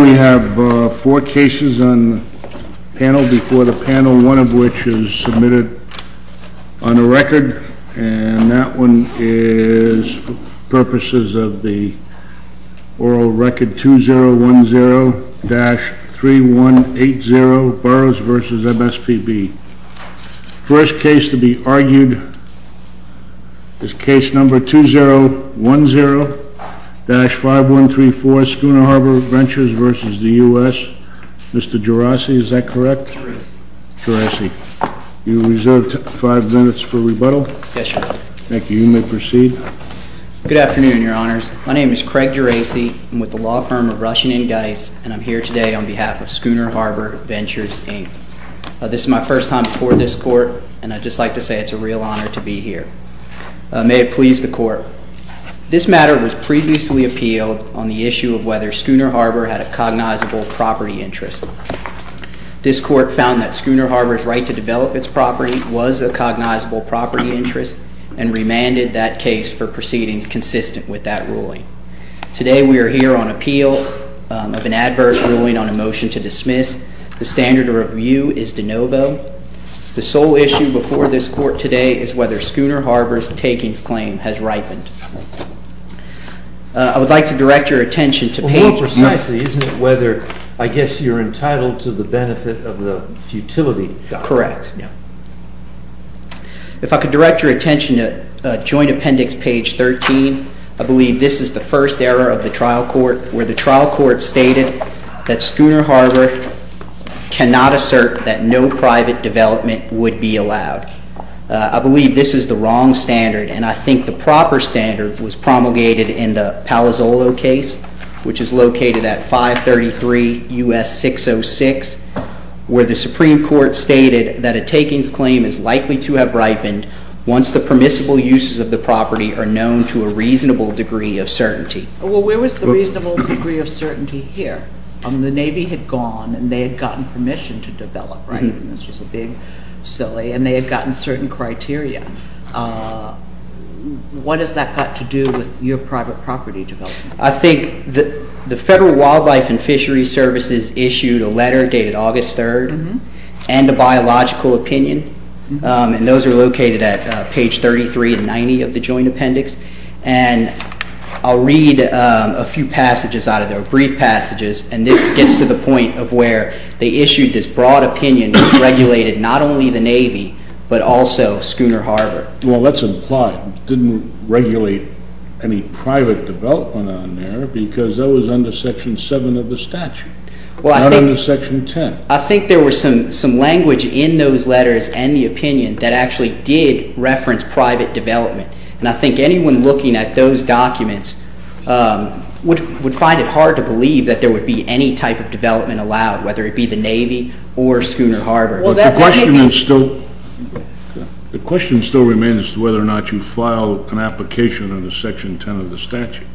We have four cases on the panel before the panel, one of which is submitted on a record, and that one is for purposes of the oral record 2010-3180 Burroughs v. MSPB. The first case to be argued is case number 2010-5134, SCHOONER HARBOR VENTURES v. the U.S. Mr. Gerasi, is that correct? Gerasi. Gerasi. You are reserved five minutes for rebuttal. Yes, Your Honor. Thank you. You may proceed. Good afternoon, Your Honors. My name is Craig Gerasi. I'm with the law firm of Russian & Geis, and I'm here today on behalf of SCHOONER HARBOR VENTURES, Inc. This is my first time before this court, and I'd just like to say it's a real honor to be here. May it please the court. This matter was previously appealed on the issue of whether SCHOONER HARBOR had a cognizable property interest. This court found that SCHOONER HARBOR's right to develop its property was a cognizable property interest and remanded that case for proceedings consistent with that ruling. Today we are here on appeal of an adverse ruling on a motion to dismiss. The standard of review is de novo. The sole issue before this court today is whether SCHOONER HARBOR's takings claim has ripened. I would like to direct your attention to page 13. More precisely, isn't it whether, I guess, you're entitled to the benefit of the futility? Correct. If I could direct your attention to joint appendix page 13, I believe this is the first error of the trial court where the trial court stated that SCHOONER HARBOR cannot assert that no private development would be allowed. I believe this is the wrong standard, and I think the proper standard was promulgated in the Palazzolo case, which is located at 533 U.S. 606, where the Supreme Court stated that a takings claim is likely to have ripened once the permissible uses of the property are known to a reasonable degree of certainty. Well, where was the reasonable degree of certainty here? I mean, the Navy had gone, and they had gotten permission to develop, right? And this was a big silly, and they had gotten certain criteria. What has that got to do with your private property development? I think the Federal Wildlife and Fisheries Services issued a letter dated August 3rd and a biological opinion, and those are located at page 33 and 90 of the joint appendix. And I'll read a few passages out of there, brief passages, and this gets to the point of where they issued this broad opinion that regulated not only the Navy but also SCHOONER HARBOR. Well, that's implied. It didn't regulate any private development on there because that was under Section 7 of the statute, not under Section 10. I think there was some language in those letters and the opinion that actually did reference private development. And I think anyone looking at those documents would find it hard to believe that there would be any type of development allowed, whether it be the Navy or SCHOONER HARBOR. The question still remains as to whether or not you filed an application under Section 10 of the statute.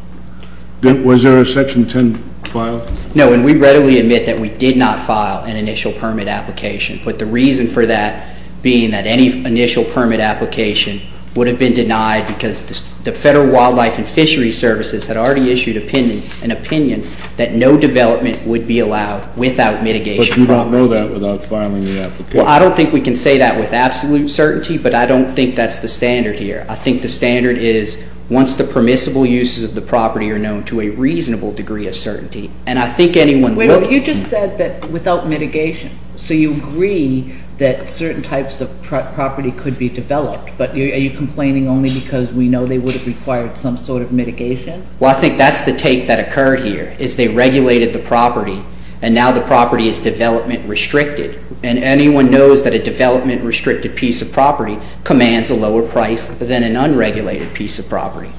Was there a Section 10 file? No, and we readily admit that we did not file an initial permit application. But the reason for that being that any initial permit application would have been denied because the Federal Wildlife and Fisheries Services had already issued an opinion that no development would be allowed without mitigation. But you don't know that without filing the application? Well, I don't think we can say that with absolute certainty, but I don't think that's the standard here. I think the standard is once the permissible uses of the property are known to a reasonable degree of certainty, and I think anyone would— Wait a minute. You just said that without mitigation. So you agree that certain types of property could be developed, but are you complaining only because we know they would have required some sort of mitigation? Well, I think that's the take that occurred here, is they regulated the property, and now the property is development-restricted. And anyone knows that a development-restricted piece of property commands a lower price than an unregulated piece of property.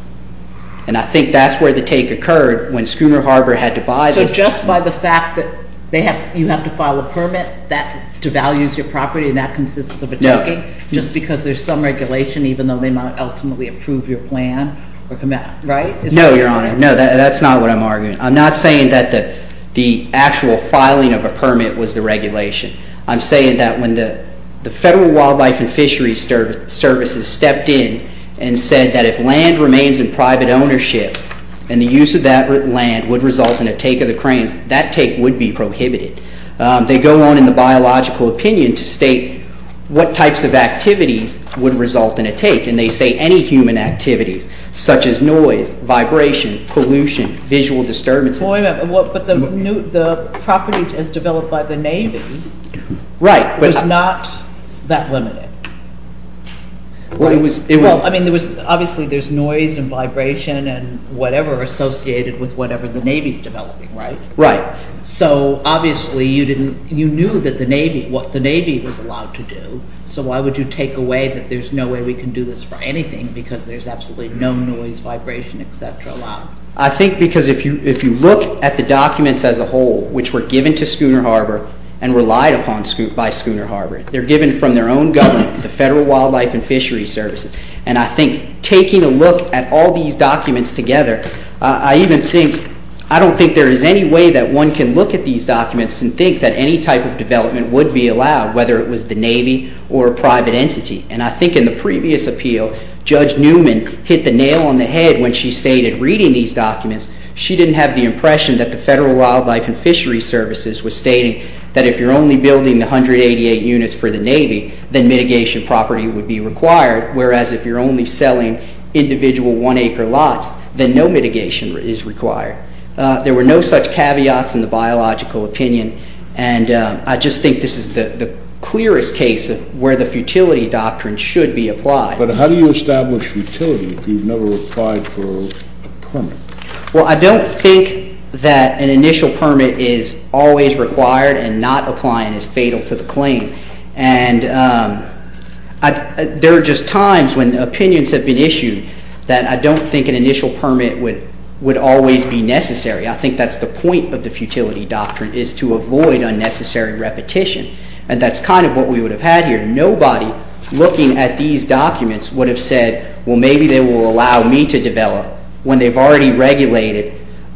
And I think that's where the take occurred when SCHOONER HARBOR had to buy the— So just by the fact that you have to file a permit, that devalues your property and that consists of a taking just because there's some regulation, even though they might ultimately approve your plan, right? No, Your Honor. No, that's not what I'm arguing. I'm not saying that the actual filing of a permit was the regulation. I'm saying that when the Federal Wildlife and Fisheries Services stepped in and said that if land remains in private ownership and the use of that land would result in a take of the cranes, that take would be prohibited. They go on in the biological opinion to state what types of activities would result in a take, and they say any human activities, such as noise, vibration, pollution, visual disturbances. But the property as developed by the Navy was not that limited. Well, it was— Well, I mean, obviously there's noise and vibration and whatever associated with whatever the Navy's developing, right? Right. So obviously you didn't—you knew that the Navy—what the Navy was allowed to do. So why would you take away that there's no way we can do this for anything because there's absolutely no noise, vibration, et cetera allowed? I think because if you look at the documents as a whole, which were given to Schooner Harbor and relied upon by Schooner Harbor, they're given from their own government, the Federal Wildlife and Fisheries Services. And I think taking a look at all these documents together, I even think—I don't think there is any way that one can look at these documents and think that any type of development would be allowed, whether it was the Navy or a private entity. And I think in the previous appeal, Judge Newman hit the nail on the head when she stated, reading these documents, she didn't have the impression that the Federal Wildlife and Fisheries Services was stating that if you're only building 188 units for the Navy, then mitigation property would be required. Whereas if you're only selling individual one-acre lots, then no mitigation is required. There were no such caveats in the biological opinion. And I just think this is the clearest case where the futility doctrine should be applied. But how do you establish futility if you've never applied for a permit? Well, I don't think that an initial permit is always required and not applying is fatal to the claim. And there are just times when opinions have been issued that I don't think an initial permit would always be necessary. I think that's the point of the futility doctrine is to avoid unnecessary repetition. And that's kind of what we would have had here. Nobody looking at these documents would have said, well, maybe they will allow me to develop when they've already regulated,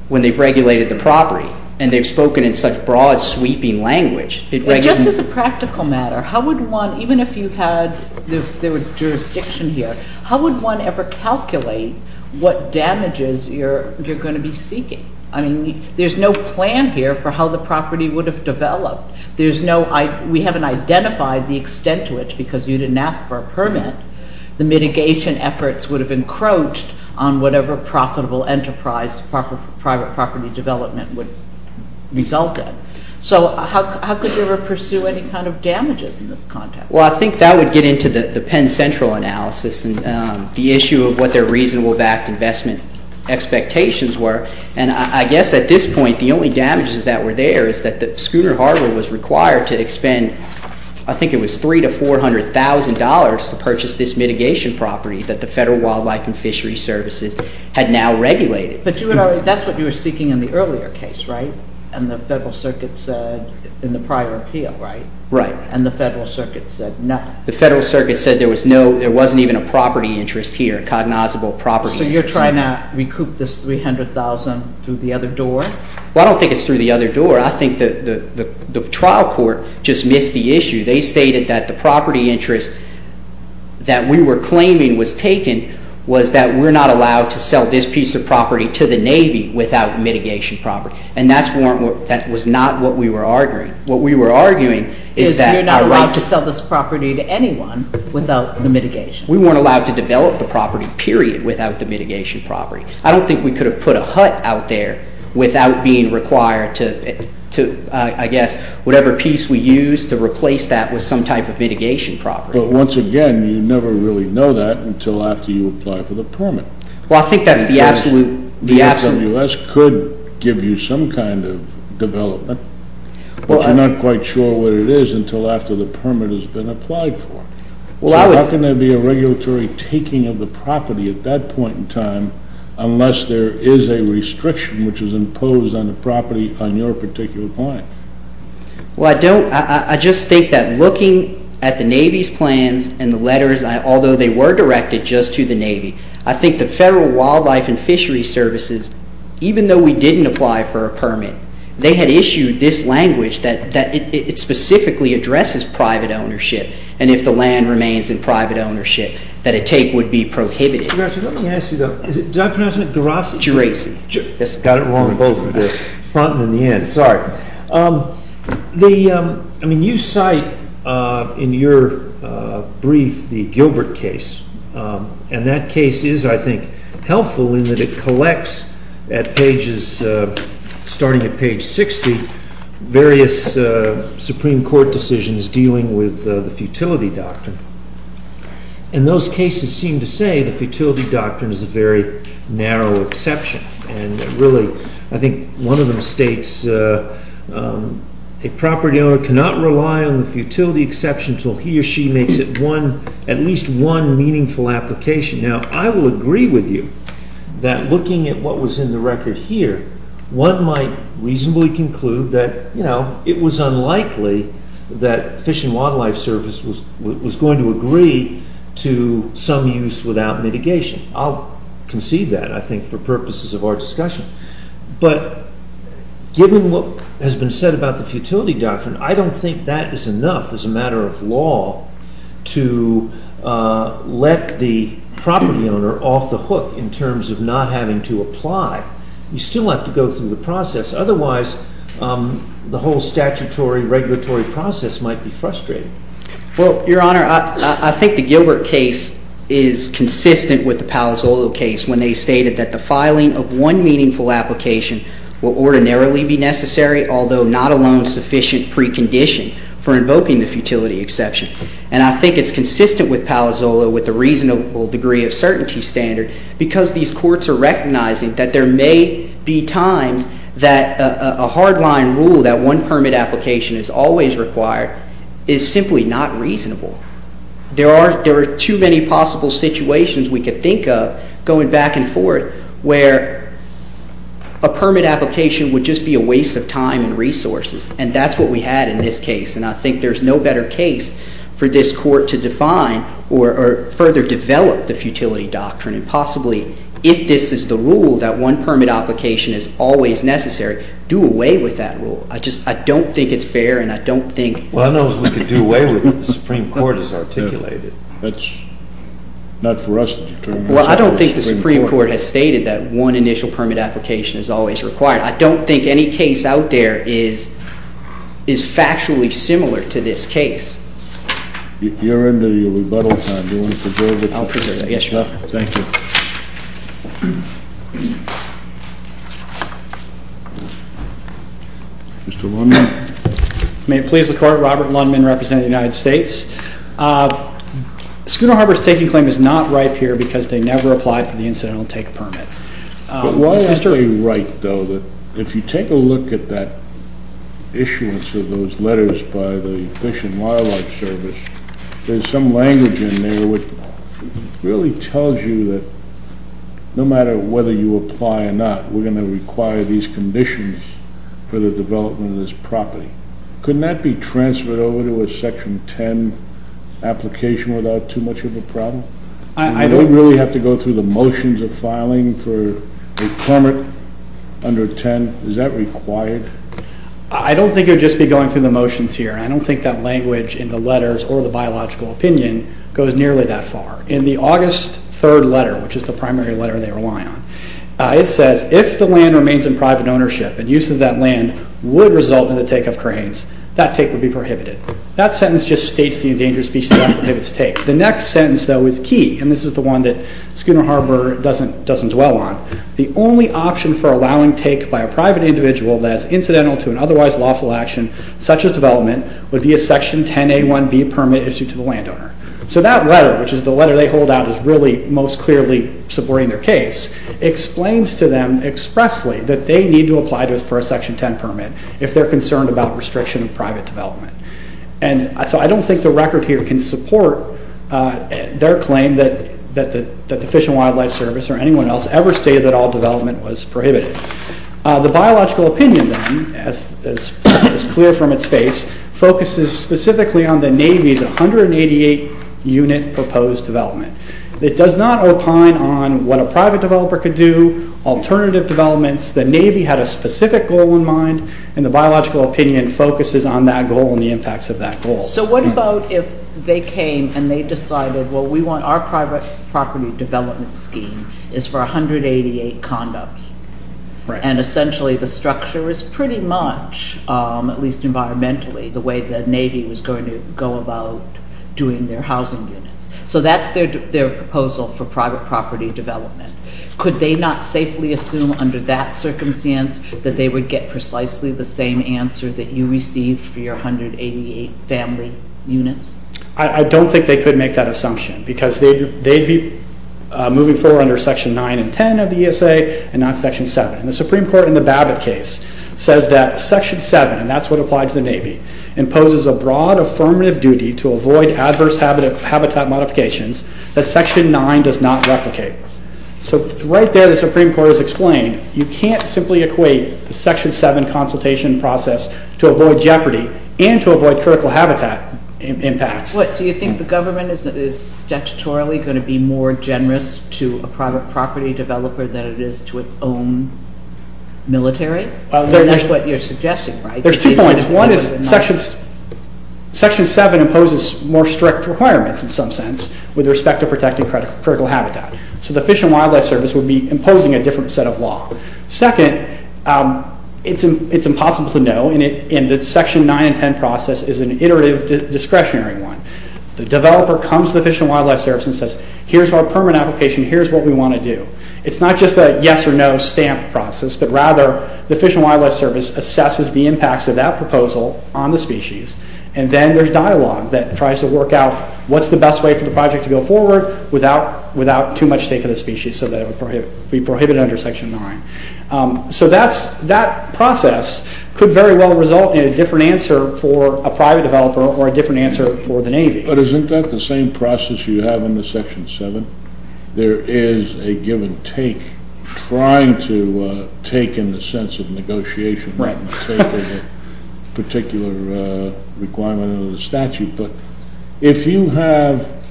when they've regulated the property and they've spoken in such broad, sweeping language. Just as a practical matter, how would one, even if you had jurisdiction here, how would one ever calculate what damages you're going to be seeking? I mean, there's no plan here for how the property would have developed. We haven't identified the extent to which, because you didn't ask for a permit, the mitigation efforts would have encroached on whatever profitable enterprise private property development would result in. So how could you ever pursue any kind of damages in this context? Well, I think that would get into the Penn Central analysis and the issue of what their reasonable-backed investment expectations were. And I guess at this point, the only damages that were there is that the Schooner Harbor was required to expend, I think it was $300,000 to $400,000 to purchase this mitigation property that the Federal Wildlife and Fisheries Services had now regulated. But that's what you were seeking in the earlier case, right? And the Federal Circuit said in the prior appeal, right? Right. And the Federal Circuit said no. The Federal Circuit said there was no, there wasn't even a property interest here, a cognizable property interest. So you're trying to recoup this $300,000 through the other door? Well, I don't think it's through the other door. I think the trial court just missed the issue. They stated that the property interest that we were claiming was taken was that we're not allowed to sell this piece of property to the Navy without mitigation property. And that was not what we were arguing. What we were arguing is that our right to sell this property to anyone without the mitigation. We weren't allowed to develop the property, period, without the mitigation property. I don't think we could have put a hut out there without being required to, I guess, whatever piece we used to replace that with some type of mitigation property. But once again, you never really know that until after you apply for the permit. Well, I think that's the absolute... The FWS could give you some kind of development, but you're not quite sure what it is until after the permit has been applied for. So how can there be a regulatory taking of the property at that point in time unless there is a restriction which is imposed on the property on your particular client? Well, I just think that looking at the Navy's plans and the letters, although they were directed just to the Navy, I think the Federal Wildlife and Fisheries Services, even though we didn't apply for a permit, they had issued this language that it specifically addresses private ownership. And if the land remains in private ownership, that a take would be prohibited. Let me ask you, though. Did I pronounce it right? Jurassic. Got it wrong on both the front and the end. Sorry. I mean, you cite in your brief the Gilbert case. And that case is, I think, helpful in that it collects, starting at page 60, various Supreme Court decisions dealing with the futility doctrine. And those cases seem to say the futility doctrine is a very narrow exception. And really, I think one of them states, a property owner cannot rely on the futility exception until he or she makes at least one meaningful application. Now, I will agree with you that looking at what was in the record here, one might reasonably conclude that, you know, it was unlikely that Fish and Wildlife Service was going to agree to some use without mitigation. I'll concede that, I think, for purposes of our discussion. But given what has been said about the futility doctrine, I don't think that is enough as a matter of law to let the property owner off the hook in terms of not having to apply. You still have to go through the process. Otherwise, the whole statutory regulatory process might be frustrating. Well, Your Honor, I think the Gilbert case is consistent with the Palazzolo case when they stated that the filing of one meaningful application will ordinarily be necessary, although not alone sufficient precondition for invoking the futility exception. And I think it's consistent with Palazzolo with the reasonable degree of certainty standard because these courts are recognizing that there may be times that a hard-line rule, that one permit application is always required, is simply not reasonable. There are too many possible situations we could think of going back and forth where a permit application would just be a waste of time and resources. And that's what we had in this case. And I think there's no better case for this court to define or further develop the futility doctrine, and possibly, if this is the rule that one permit application is always necessary, do away with that rule. I just don't think it's fair, and I don't think... Well, I don't know if we could do away with it. The Supreme Court has articulated it. That's not for us to determine. Well, I don't think the Supreme Court has stated that one initial permit application is always required. I don't think any case out there is factually similar to this case. You're in the rebuttal time. Do you want to preserve it? I'll preserve it. Yes, Your Honor. Thank you. Mr. Lundman. May it please the Court, Robert Lundman, representing the United States. Schooner Harbor's taking claim is not ripe here because they never applied for the incidental take permit. But why is he right, though, that if you take a look at that issuance of those letters by the Fish and Wildlife Service, there's some language in there which really tells you that no matter whether you apply or not, we're going to require these conditions for the development of this property. Couldn't that be transferred over to a Section 10 application without too much of a problem? Do we really have to go through the motions of filing for a permit under 10? Is that required? I don't think it would just be going through the motions here. I don't think that language in the letters or the biological opinion goes nearly that far. In the August 3rd letter, which is the primary letter they rely on, it says, if the land remains in private ownership and use of that land would result in the take of cranes, that take would be prohibited. That sentence just states the endangered species that prohibits take. The next sentence, though, is key, and this is the one that Schooner Harbor doesn't dwell on. The only option for allowing take by a private individual that is incidental to an otherwise lawful action, such as development, would be a Section 10A1B permit issued to the landowner. So that letter, which is the letter they hold out as really most clearly supporting their case, explains to them expressly that they need to apply for a Section 10 permit if they're concerned about restriction of private development. And so I don't think the record here can support their claim that the Fish and Wildlife Service or anyone else ever stated that all development was prohibited. The biological opinion, then, as clear from its face, focuses specifically on the Navy's 188-unit proposed development. It does not opine on what a private developer could do, alternative developments. The Navy had a specific goal in mind, and the biological opinion focuses on that goal and the impacts of that goal. So what about if they came and they decided, well, we want our private property development scheme is for 188 condos, and essentially the structure is pretty much, at least environmentally, the way the Navy was going to go about doing their housing units. So that's their proposal for private property development. Could they not safely assume under that circumstance that they would get precisely the same answer that you received for your 188 family units? I don't think they could make that assumption, because they'd be moving forward under Section 9 and 10 of the ESA and not Section 7. And the Supreme Court in the Babbitt case says that Section 7, and that's what applied to the Navy, imposes a broad affirmative duty to avoid adverse habitat modifications that Section 9 does not replicate. So right there the Supreme Court is explaining you can't simply equate the Section 7 consultation process to avoid jeopardy and to avoid critical habitat impacts. So you think the government is statutorily going to be more generous to a private property developer than it is to its own military? That's what you're suggesting, right? There's two points. One is Section 7 imposes more strict requirements in some sense with respect to protecting critical habitat. So the Fish and Wildlife Service would be imposing a different set of law. Second, it's impossible to know, and the Section 9 and 10 process is an iterative discretionary one. The developer comes to the Fish and Wildlife Service and says, here's our permit application, here's what we want to do. It's not just a yes or no stamp process, but rather the Fish and Wildlife Service assesses the impacts of that proposal on the species, and then there's dialogue that tries to work out what's the best way for the project to go forward without too much take of the species, so that it would be prohibited under Section 9. So that process could very well result in a different answer for a private developer or a different answer for the Navy. But isn't that the same process you have in the Section 7? There is a given take, trying to take in the sense of negotiation, not the take of a particular requirement under the statute. But if you have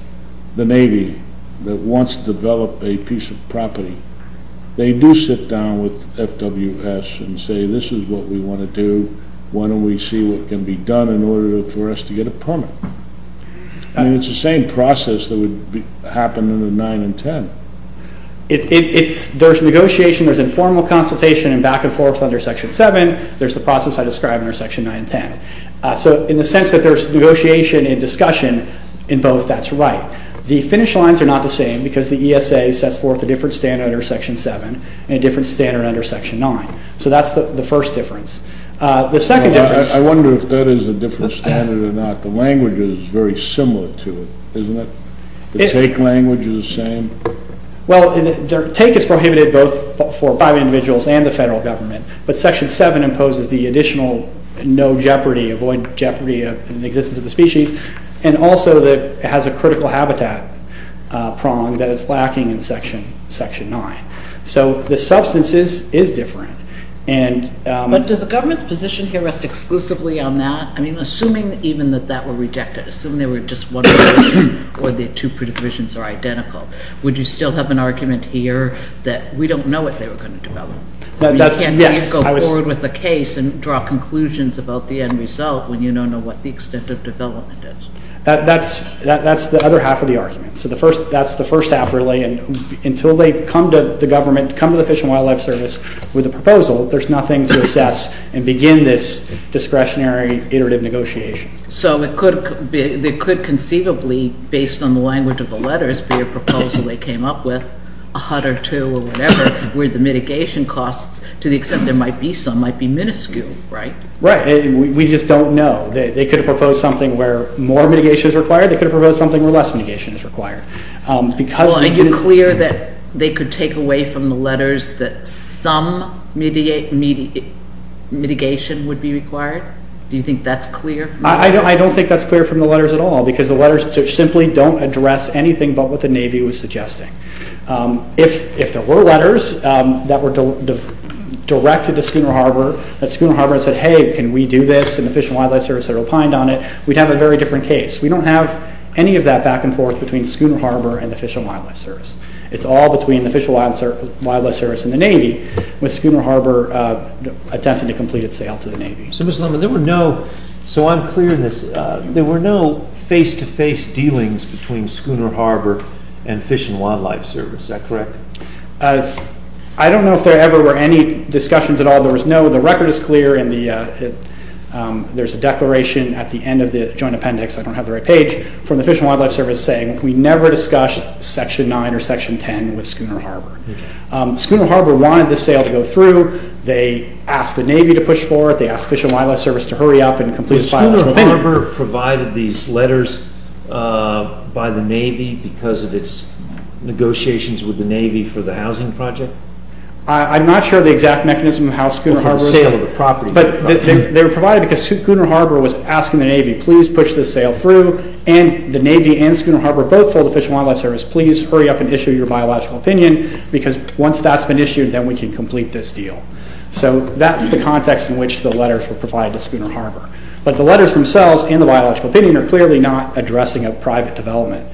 the Navy that wants to develop a piece of property, they do sit down with FWS and say, this is what we want to do, why don't we see what can be done in order for us to get a permit? And it's the same process that would happen under 9 and 10. There's negotiation, there's informal consultation, and back and forth under Section 7, there's the process I described under Section 9 and 10. So in the sense that there's negotiation and discussion in both, that's right. The finish lines are not the same because the ESA sets forth a different standard under Section 7 and a different standard under Section 9. So that's the first difference. I wonder if that is a different standard or not. The language is very similar to it, isn't it? The take language is the same? Well, take is prohibited both for private individuals and the federal government, but Section 7 imposes the additional no jeopardy, avoid jeopardy in the existence of the species, and also it has a critical habitat prong that is lacking in Section 9. So the substance is different. But does the government's position here rest exclusively on that? I mean, assuming even that that were rejected, assuming they were just one provision or the two provisions are identical, would you still have an argument here that we don't know what they were going to develop? You can't go forward with a case and draw conclusions about the end result when you don't know what the extent of development is. That's the other half of the argument. So that's the first half really. Until they come to the government, come to the Fish and Wildlife Service with a proposal, there's nothing to assess and begin this discretionary, iterative negotiation. So it could conceivably, based on the language of the letters, be a proposal they came up with, a hut or two or whatever, where the mitigation costs, to the extent there might be some, might be minuscule, right? Right. We just don't know. They could have proposed something where more mitigation is required. They could have proposed something where less mitigation is required. Well, are you clear that they could take away from the letters that some mitigation would be required? Do you think that's clear? I don't think that's clear from the letters at all because the letters simply don't address anything but what the Navy was suggesting. If there were letters that were directed to Schooner Harbor, that Schooner Harbor said, hey, can we do this, and the Fish and Wildlife Service had opined on it, we'd have a very different case. We don't have any of that back and forth between Schooner Harbor and the Fish and Wildlife Service. It's all between the Fish and Wildlife Service and the Navy with Schooner Harbor attempting to complete its sale to the Navy. So, Mr. Lemon, there were no, so I'm clear in this, there were no face-to-face dealings between Schooner Harbor and Fish and Wildlife Service. Is that correct? I don't know if there ever were any discussions at all. There was no. The record is clear. There's a declaration at the end of the Joint Appendix, I don't have the right page, from the Fish and Wildlife Service saying, we never discussed Section 9 or Section 10 with Schooner Harbor. Schooner Harbor wanted the sale to go through. They asked the Navy to push forward. They asked Fish and Wildlife Service to hurry up and complete a biological opinion. Was Schooner Harbor provided these letters by the Navy because of its negotiations with the Navy for the housing project? I'm not sure of the exact mechanism of how Schooner Harbor was. Before the sale of the property. But they were provided because Schooner Harbor was asking the Navy, please push this sale through, and the Navy and Schooner Harbor both told the Fish and Wildlife Service, please hurry up and issue your biological opinion because once that's been issued, then we can complete this deal. So that's the context in which the letters were provided to Schooner Harbor. But the letters themselves and the biological opinion are clearly not addressing a private development.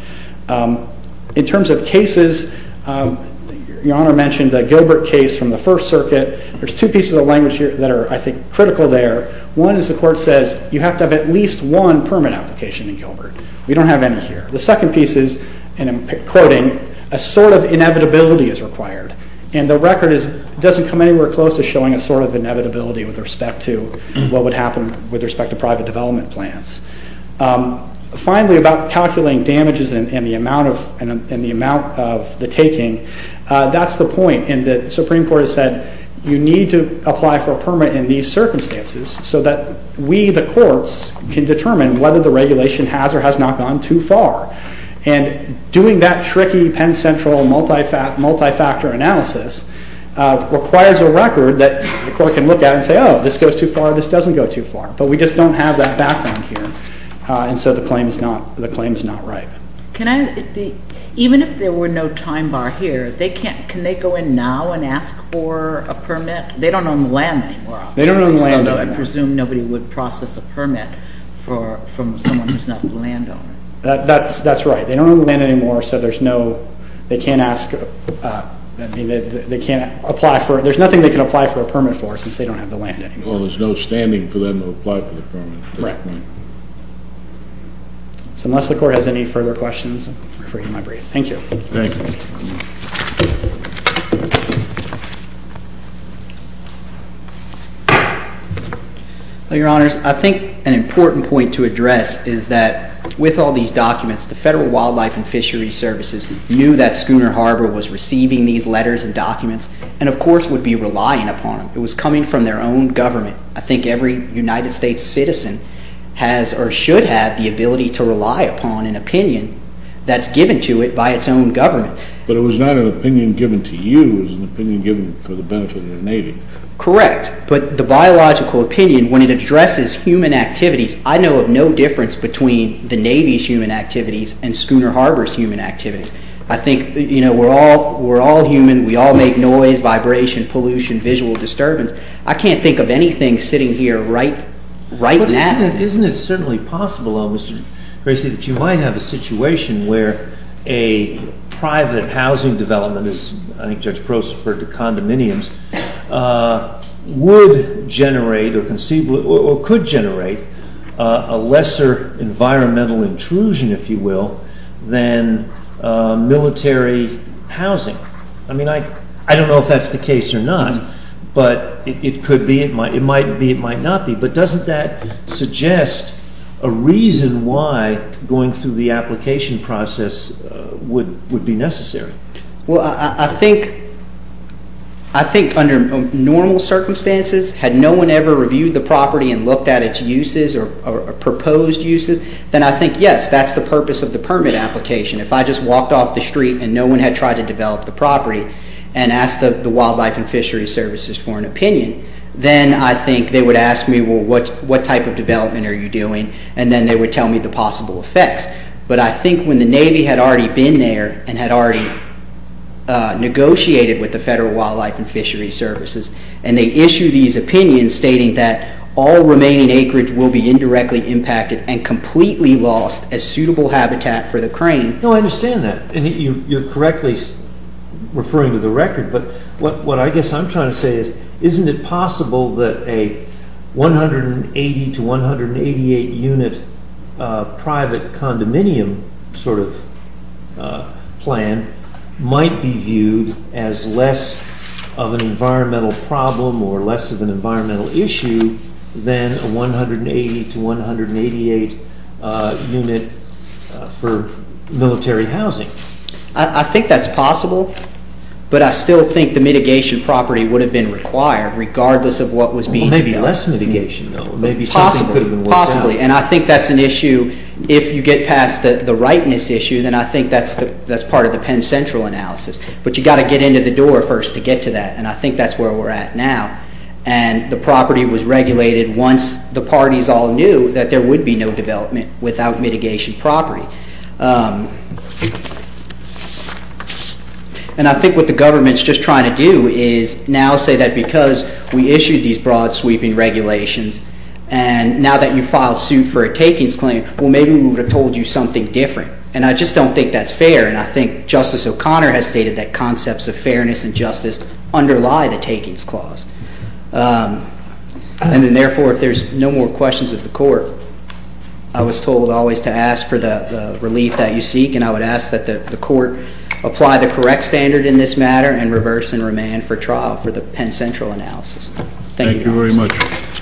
In terms of cases, Your Honor mentioned the Gilbert case from the First Circuit. There's two pieces of language here that are, I think, critical there. One is the court says, you have to have at least one permit application in Gilbert. We don't have any here. The second piece is, and I'm quoting, a sort of inevitability is required. And the record doesn't come anywhere close to showing a sort of inevitability with respect to what would happen with respect to private development plans. Finally, about calculating damages and the amount of the taking, that's the point. And the Supreme Court has said, you need to apply for a permit in these circumstances so that we, the courts, can determine whether the regulation has or has not gone too far. And doing that tricky Penn Central multi-factor analysis requires a record that the court can look at and say, oh, this goes too far, this doesn't go too far. But we just don't have that background here. And so the claim is not right. Even if there were no time bar here, can they go in now and ask for a permit? They don't own the land anymore, obviously. They don't own the land anymore. So I presume nobody would process a permit from someone who's not the landowner. That's right. They don't own the land anymore, so there's no, they can't ask, they can't apply for, there's nothing they can apply for a permit for since they don't have the land anymore. Well, there's no standing for them to apply for the permit at this point. Right. So unless the court has any further questions, I'll refer you to my brief. Thank you. Thank you. Your Honors, I think an important point to address is that with all these documents, the Federal Wildlife and Fisheries Services knew that Schooner Harbor was receiving these letters and documents and of course would be relying upon them. It was coming from their own government. I think every United States citizen has or should have the ability to rely upon an opinion that's given to it by its own government. But it was not an opinion given to you. It was an opinion given for the benefit of the Navy. Correct. But the biological opinion, when it addresses human activities, I know of no difference between the Navy's human activities and Schooner Harbor's human activities. I think, you know, we're all human. We all make noise, vibration, pollution, visual disturbance. I can't think of anything sitting here right now. But isn't it certainly possible, Mr. Gracie, that you might have a situation where a private housing development, as I think Judge Probst referred to condominiums, would generate or could generate a lesser environmental intrusion, if you will, than military housing? I mean, I don't know if that's the case or not, but it could be, it might be, it might not be. But doesn't that suggest a reason why going through the application process would be necessary? Well, I think under normal circumstances, had no one ever reviewed the property and looked at its uses or proposed uses, then I think, yes, that's the purpose of the permit application. If I just walked off the street and no one had tried to develop the property and asked the Wildlife and Fisheries Services for an opinion, then I think they would ask me, well, what type of development are you doing? And then they would tell me the possible effects. But I think when the Navy had already been there and had already negotiated with the Federal Wildlife and Fisheries Services and they issued these opinions stating that all remaining acreage will be indirectly impacted and completely lost as suitable habitat for the crane. No, I understand that. And you're correctly referring to the record, but what I guess I'm trying to say is isn't it possible that a 180 to 188 unit private condominium sort of plan might be viewed as less of an environmental problem or less of an environmental issue than a 180 to 188 unit for military housing? I think that's possible, but I still think the mitigation property would have been required regardless of what was being developed. Well, maybe less mitigation, though. Possibly. Maybe something could have been worked out. Possibly. And I think that's an issue, if you get past the rightness issue, then I think that's part of the Penn Central analysis. But you've got to get into the door first to get to that, and I think that's where we're at now. And the property was regulated once the parties all knew that there would be no development without mitigation property. And I think what the government's just trying to do is now say that because we issued these broad sweeping regulations and now that you filed suit for a takings claim, well, maybe we would have told you something different. And I just don't think that's fair, and I think Justice O'Connor has stated that concepts of fairness and justice underlie the takings clause. And then, therefore, if there's no more questions of the Court, I was told always to ask for the relief that you seek, and I would ask that the Court apply the correct standard in this matter and reverse and remand for trial for the Penn Central analysis. Thank you. Thank you very much.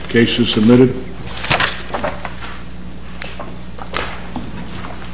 Case is submitted.